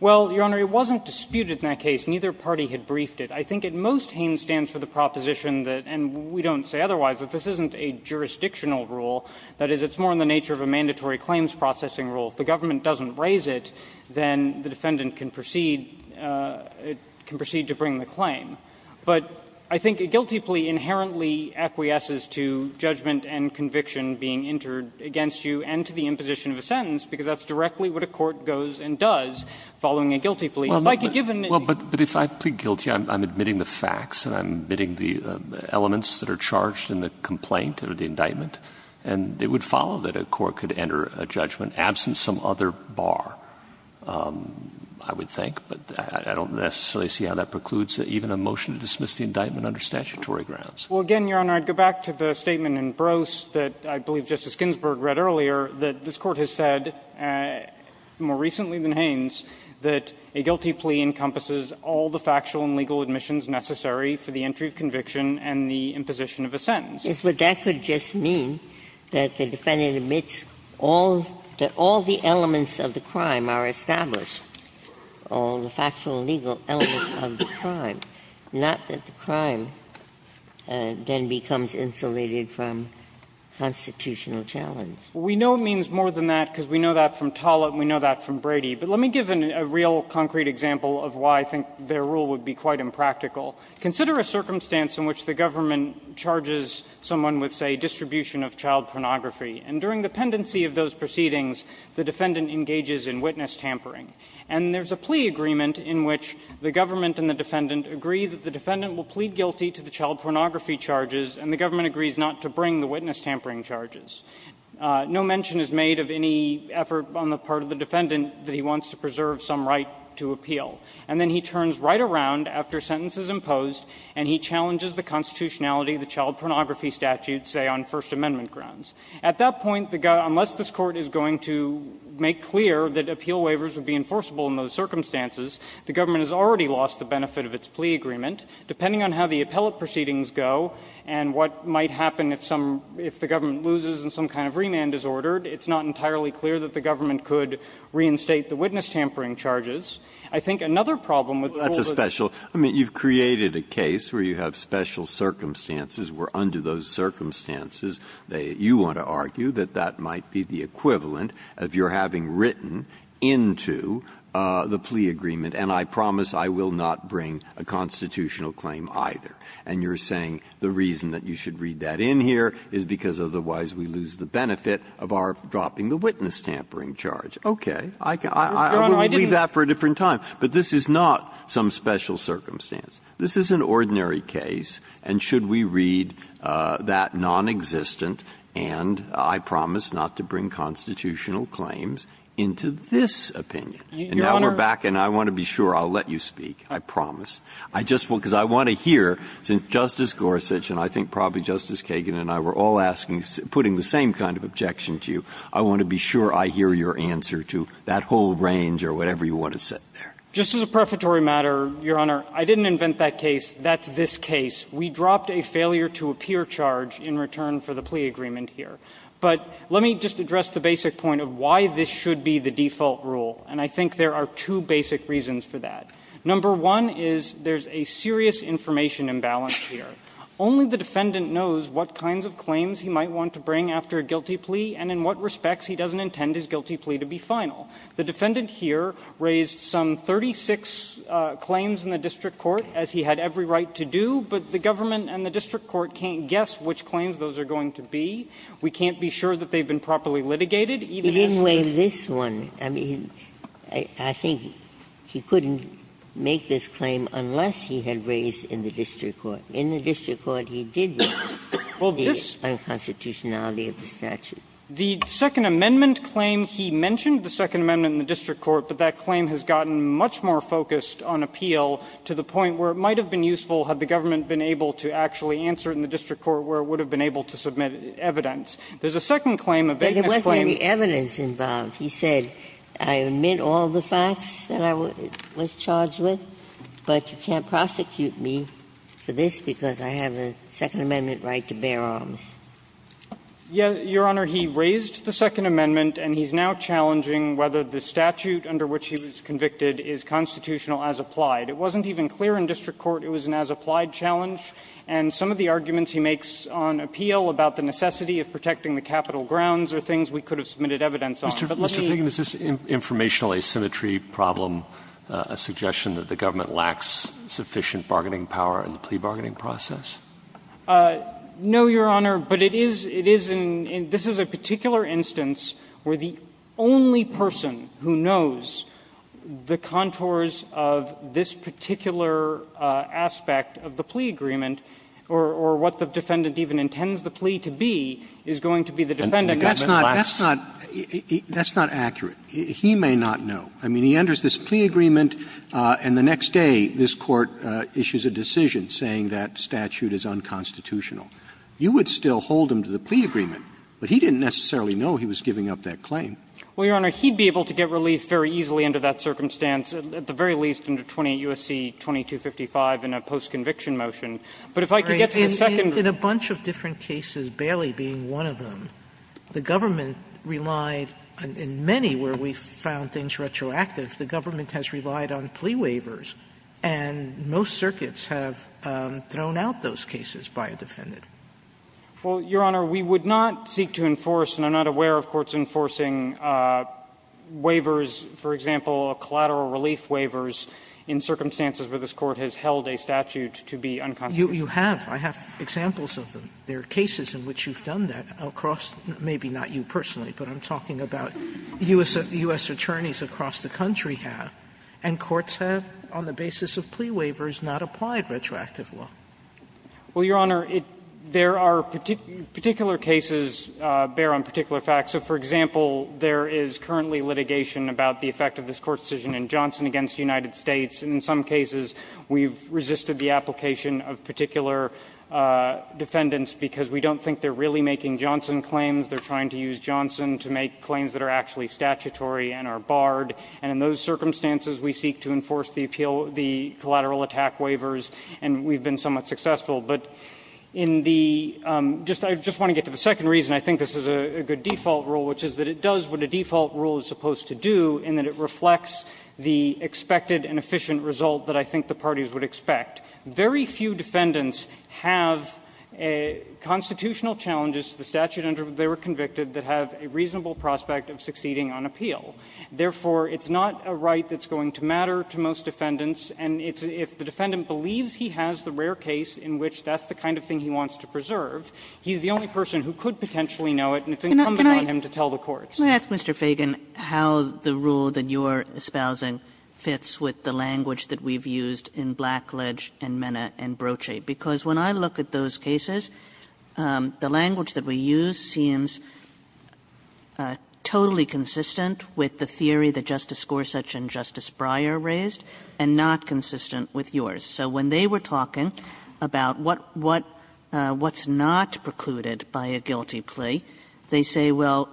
Well, Your Honor, it wasn't disputed in that case. Neither party had briefed it. I think at most Haynes stands for the proposition that – and we don't say otherwise – that this isn't a jurisdictional rule, that is, it's more in the nature of a mandatory claims processing rule. If the government doesn't raise it, then the defendant can proceed – can proceed to bring the claim. But I think a guilty plea inherently acquiesces to judgment and conviction being entered against you and to the imposition of a sentence, because that's directly what a court goes and does, following a guilty plea. If I could give an example. Well, but if I plead guilty, I'm admitting the facts and I'm admitting the elements that are charged in the complaint or the indictment, and it would follow that a court could enter a judgment, absent some other bar, I would think, but I don't necessarily see how that precludes even a motion to dismiss the indictment under statutory grounds. Well, again, Your Honor, I'd go back to the statement in Brose that I believe Justice Ginsburg read earlier, that this Court has said, more recently than Haynes, that a guilty plea encompasses all the factual and legal admissions necessary for the entry of conviction and the imposition of a sentence. Ginsburg. But that could just mean that the defendant admits all the elements of the crime are established, all the factual and legal elements of the crime, not that the crime then becomes insulated from constitutional challenge. We know it means more than that, because we know that from Tollett and we know that from Brady. But let me give a real concrete example of why I think their rule would be quite impractical. Consider a circumstance in which the government charges someone with, say, distribution of child pornography, and during the pendency of those proceedings, the defendant engages in witness tampering. And there's a plea agreement in which the government and the defendant agree that the defendant will plead guilty to the child pornography charges, and the government agrees not to bring the witness tampering charges. No mention is made of any effort on the part of the defendant that he wants to preserve some right to appeal. And then he turns right around after a sentence is imposed, and he challenges the constitutionality of the child pornography statute, say, on First Amendment grounds. At that point, unless this Court is going to make clear that appeal waivers would be enforceable in those circumstances, the government has already lost the benefit of its plea agreement. Depending on how the appellate proceedings go and what might happen if some of the government loses and some kind of remand is ordered, it's not entirely clear that the government could reinstate the witness tampering charges. would be able to enforce it. Breyer. Well, that's a special – I mean, you've created a case where you have special circumstances where under those circumstances you want to argue that that might be the equivalent of your having written into the plea agreement, and I promise I will not bring a constitutional claim either. And you're saying the reason that you should read that in here is because otherwise we lose the benefit of our dropping the witness tampering charge. Okay. I can – I will leave that for a different time. But this is not some special circumstance. This is an ordinary case, and should we read that nonexistent and I promise not to bring constitutional claims into this opinion. And now we're back and I want to be sure I'll let you speak, I promise. I just want – because I want to hear, since Justice Gorsuch and I think probably Justice Kagan and I were all asking – putting the same kind of objection to you, I want to be sure I hear your answer to that whole range or whatever you want to set there. Just as a prefatory matter, Your Honor, I didn't invent that case. That's this case. We dropped a failure to appear charge in return for the plea agreement here. But let me just address the basic point of why this should be the default rule. And I think there are two basic reasons for that. Number one is there's a serious information imbalance here. Only the defendant knows what kinds of claims he might want to bring after a guilty plea and in what respects he doesn't intend his guilty plea to be final. The defendant here raised some 36 claims in the district court, as he had every right to do, but the government and the district court can't guess which claims those are going to be. We can't be sure that they've been properly litigated, even as to the other. Ginsburg. He didn't waive this one. I mean, I think he couldn't make this claim unless he had raised in the district court. In the district court, he did raise the unconstitutionality of the statute. The Second Amendment claim, he mentioned the Second Amendment in the district court, but that claim has gotten much more focused on appeal to the point where it might have been useful had the government been able to actually answer it in the district court. There's a second claim, a vagueness claim. Ginsburg. But there wasn't any evidence involved. He said, I admit all the facts that I was charged with, but you can't prosecute me for this because I have a Second Amendment right to bear arms. Yeah, Your Honor, he raised the Second Amendment, and he's now challenging whether the statute under which he was convicted is constitutional as applied. It wasn't even clear in district court it was an as-applied challenge, and some of the arguments he makes on appeal about the necessity of protecting the capital grounds are things we could have submitted evidence on. Mr. Feigin, is this informational asymmetry problem a suggestion that the government lacks sufficient bargaining power in the plea bargaining process? No, Your Honor, but it is an – this is a particular instance where the only person who knows the contours of this particular aspect of the plea agreement, or what the defendant even intends the plea to be, is going to be the defendant. That's not – that's not accurate. He may not know. I mean, he enters this plea agreement, and the next day this Court issues a decision saying that statute is unconstitutional. You would still hold him to the plea agreement, but he didn't necessarily know he was giving up that claim. Well, Your Honor, he'd be able to get relief very easily under that circumstance, at the very least under 28 U.S.C. 2255 in a post-conviction motion. But if I could get to the second one. In a bunch of different cases, Bailey being one of them, the government relied – in many where we found things retroactive, the government has relied on plea waivers, and most circuits have thrown out those cases by a defendant. Well, Your Honor, we would not seek to enforce, and I'm not aware of courts enforcing waivers, for example, collateral relief waivers in circumstances where this Court has held a statute to be unconstitutional. You have. I have examples of them. There are cases in which you've done that across – maybe not you personally, but I'm talking about U.S. attorneys across the country have, and courts have, on the basis of plea waivers, not applied retroactive law. Well, Your Honor, there are particular cases bear on particular facts. So, for example, there is currently litigation about the effect of this Court's decision in Johnson v. United States, and in some cases, we've resisted the application of particular defendants because we don't think they're really making Johnson claims, they're trying to use Johnson to make claims that are actually statutory and are barred. And in those circumstances, we seek to enforce the appeal – the collateral attack waivers, and we've been somewhat successful. But in the – just – I just want to get to the second reason. I think this is a good default rule, which is that it does what a default rule is supposed to do, in that it reflects the expected and efficient result that I think the parties would expect. Very few defendants have constitutional challenges to the statute under which they were convicted that have a reasonable prospect of succeeding on appeal. Therefore, it's not a right that's going to matter to most defendants, and it's – if the defendant believes he has the rare case in which that's the kind of thing he wants to preserve, he's the only person who could potentially know it, and it's incumbent on him to tell the courts. Kagan, how the rule that you're espousing fits with the language that we've used in Blackledge and Mena and Broche, because when I look at those cases, the language that we use seems totally consistent with the theory that Justice Gorsuch and Justice Breyer raised, and not consistent with yours. So when they were talking about what's not precluded by a guilty plea, they say, well,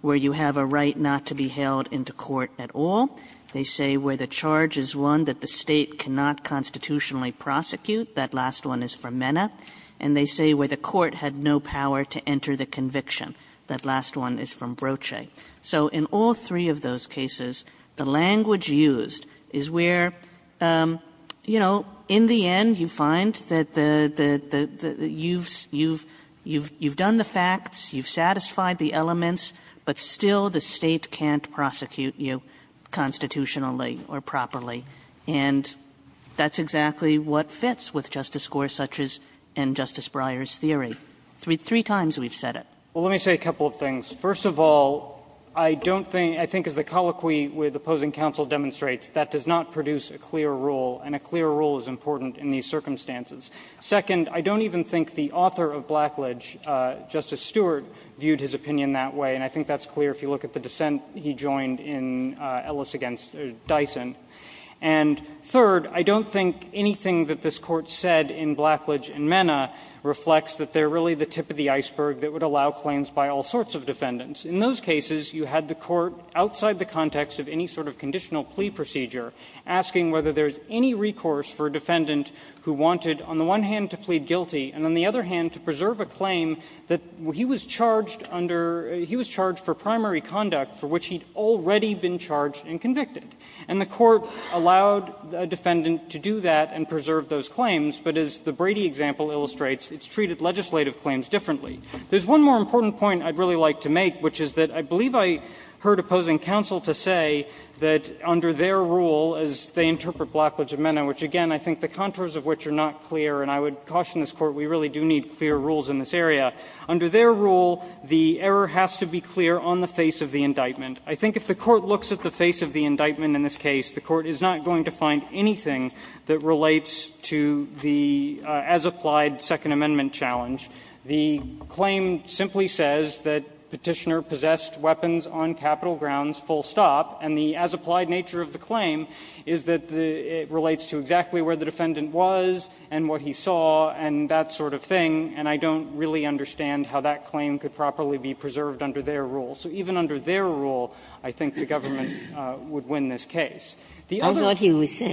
where you have a right not to be held into court at all. They say where the charge is one that the State cannot constitutionally prosecute. That last one is from Mena. And they say where the court had no power to enter the conviction. That last one is from Broche. So in all three of those cases, the language used is where, you know, in the end, you find that the – that you've – you've done the facts, you've satisfied the elements, but still the State can't prosecute you constitutionally or properly. And that's exactly what fits with Justice Gorsuch's and Justice Breyer's theory. Three times we've said it. Well, let me say a couple of things. First of all, I don't think – I think as the colloquy with opposing counsel demonstrates, that does not produce a clear rule, and a clear rule is important in these circumstances. Second, I don't even think the author of Blackledge, Justice Stewart, viewed his opinion that way. And I think that's clear if you look at the dissent he joined in Ellis v. Dyson. And third, I don't think anything that this Court said in Blackledge and Mena reflects that they're really the tip of the iceberg that would allow claims by all sorts of defendants. In those cases, you had the Court outside the context of any sort of conditional plea procedure, asking whether there's any recourse for a defendant who wanted, on the one hand, to plead guilty, and on the other hand, to preserve a claim that he was charged under – he was charged for primary conduct for which he'd already been charged and convicted. And the Court allowed a defendant to do that and preserve those claims, but as the Court did, it allowed the defendant to do legislative claims differently. There's one more important point I'd really like to make, which is that I believe I heard opposing counsel to say that under their rule, as they interpret Blackledge and Mena, which, again, I think the contours of which are not clear, and I would caution this Court, we really do need clear rules in this area, under their rule, the error has to be clear on the face of the indictment. I think if the Court looks at the face of the indictment in this case, the Court is not going to find anything that relates to the as-applied Second Amendment challenge. The claim simply says that Petitioner possessed weapons on Capitol grounds full stop, and the as-applied nature of the claim is that it relates to exactly where the defendant was and what he saw and that sort of thing, and I don't really understand how that claim could properly be preserved under their rule. So even under their rule, I think the government would win this case. The other one is that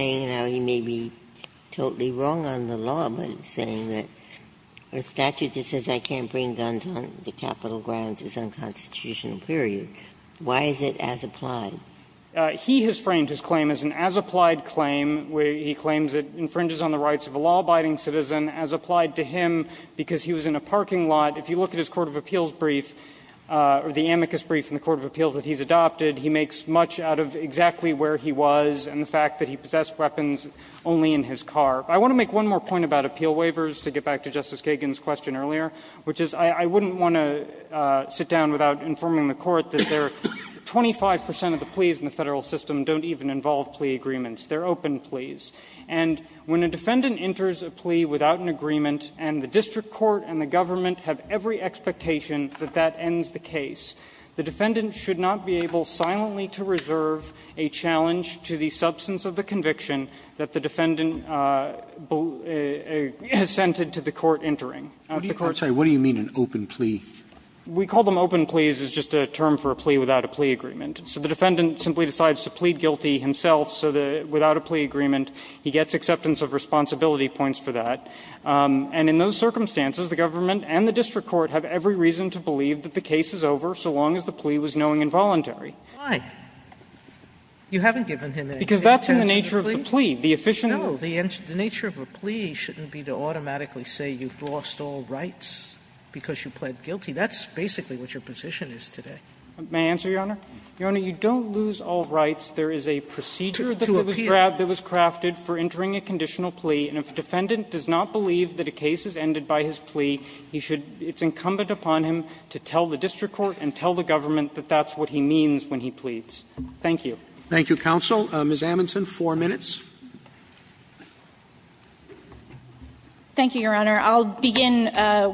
the statute says I can't bring guns on the Capitol grounds is unconstitutional, period. Why is it as-applied? He has framed his claim as an as-applied claim where he claims it infringes on the rights of a law-abiding citizen as applied to him because he was in a parking lot. If you look at his court of appeals brief, or the amicus brief in the court of appeals that he's adopted, he makes much out of exactly where he was and the fact that he possessed weapons only in his car. I want to make one more point about appeal waivers to get back to Justice Kagan's question earlier, which is I wouldn't want to sit down without informing the Court that there are 25 percent of the pleas in the Federal system don't even involve plea agreements. They're open pleas. And when a defendant enters a plea without an agreement and the district court and the government have every expectation that that ends the case, the defendant should not be able silently to reserve a challenge to the substance of the conviction that the defendant assented to the court entering. Now, if the court's saying, what do you mean, an open plea? We call them open pleas is just a term for a plea without a plea agreement. So the defendant simply decides to plead guilty himself so that without a plea agreement he gets acceptance of responsibility points for that. And in those circumstances, the government and the district court have every reason to believe that the case is over so long as the plea was knowing involuntary. Sotomayor, You haven't given him an excuse to answer the plea? Feigin, Because that's the nature of the plea. The efficient answer is no. Sotomayor, The nature of a plea shouldn't be to automatically say you've lost all rights because you pled guilty. That's basically what your position is today. Feigin, May I answer, Your Honor? Your Honor, you don't lose all rights. There is a procedure that was grabbed that was crafted for entering a conditional plea, and if a defendant does not believe that a case is ended by his plea, it's incumbent upon him to tell the district court and tell the government that that's what he means when he pleads. Thank you. Roberts Thank you, counsel. Ms. Amundson, four minutes. Amundson, Thank you, Your Honor. I'll begin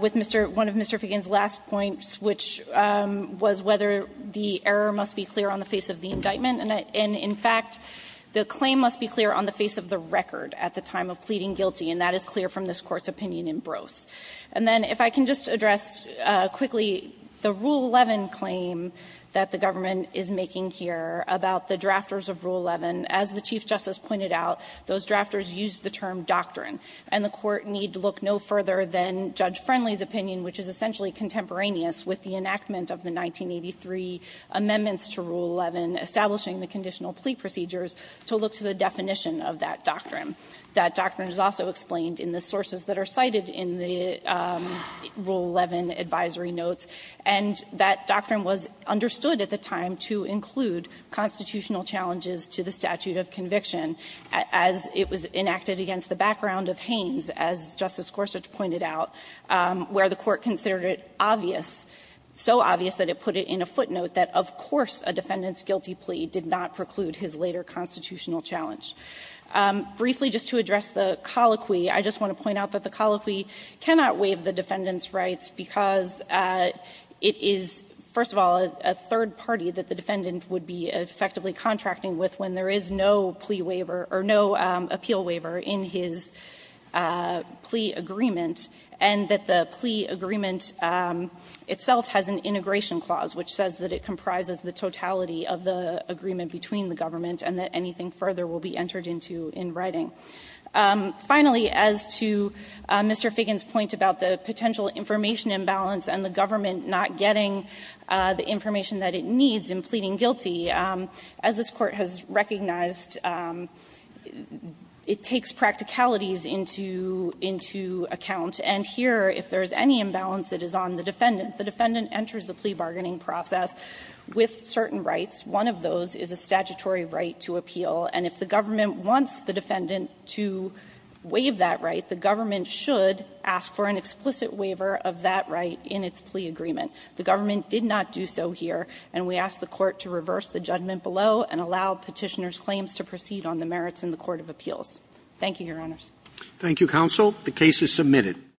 with Mr. one of Mr. Feigin's last points, which was whether the error must be clear on the face of the indictment. And in fact, the claim must be clear on the face of the record at the time of pleading guilty, and that is clear from this Court's opinion in Brose. And then if I can just address quickly the Rule 11 claim that the government is making here about the drafters of Rule 11. As the Chief Justice pointed out, those drafters used the term doctrine, and the Court need look no further than Judge Friendly's opinion, which is essentially contemporaneous with the enactment of the 1983 amendments to Rule 11, establishing the conditional plea procedures, to look to the definition of that doctrine. That doctrine is also explained in the sources that are cited in the Rule 11 advisory notes, and that doctrine was understood at the time to include constitutional challenges to the statute of conviction as it was enacted against the background of Hanes, as Justice Gorsuch pointed out, where the Court considered it obvious, so obvious that it put it in a footnote that, of course, a defendant's guilty plea did not preclude his later constitutional challenge. Briefly, just to address the colloquy, I just want to point out that the colloquy cannot waive the defendant's rights because it is, first of all, a third party that the defendant would be effectively contracting with when there is no plea waiver or no appeal waiver in his plea agreement, and that the plea agreement itself has an integration clause which says that it comprises the totality of the agreement between the government and that anything further will be entered into in writing. Finally, as to Mr. Figgin's point about the potential information imbalance and the government not getting the information that it needs in pleading guilty, as this Court has recognized, it takes practicalities into account. And here, if there is any imbalance that is on the defendant, the defendant enters the plea bargaining process with certain rights. One of those is a statutory right to appeal, and if the government wants the defendant to waive that right, the government should ask for an explicit waiver of that right in its plea agreement. The government did not do so here, and we ask the Court to reverse the judgment below and allow Petitioner's claims to proceed on the merits in the court of appeals. Thank you, Your Honors. Roberts.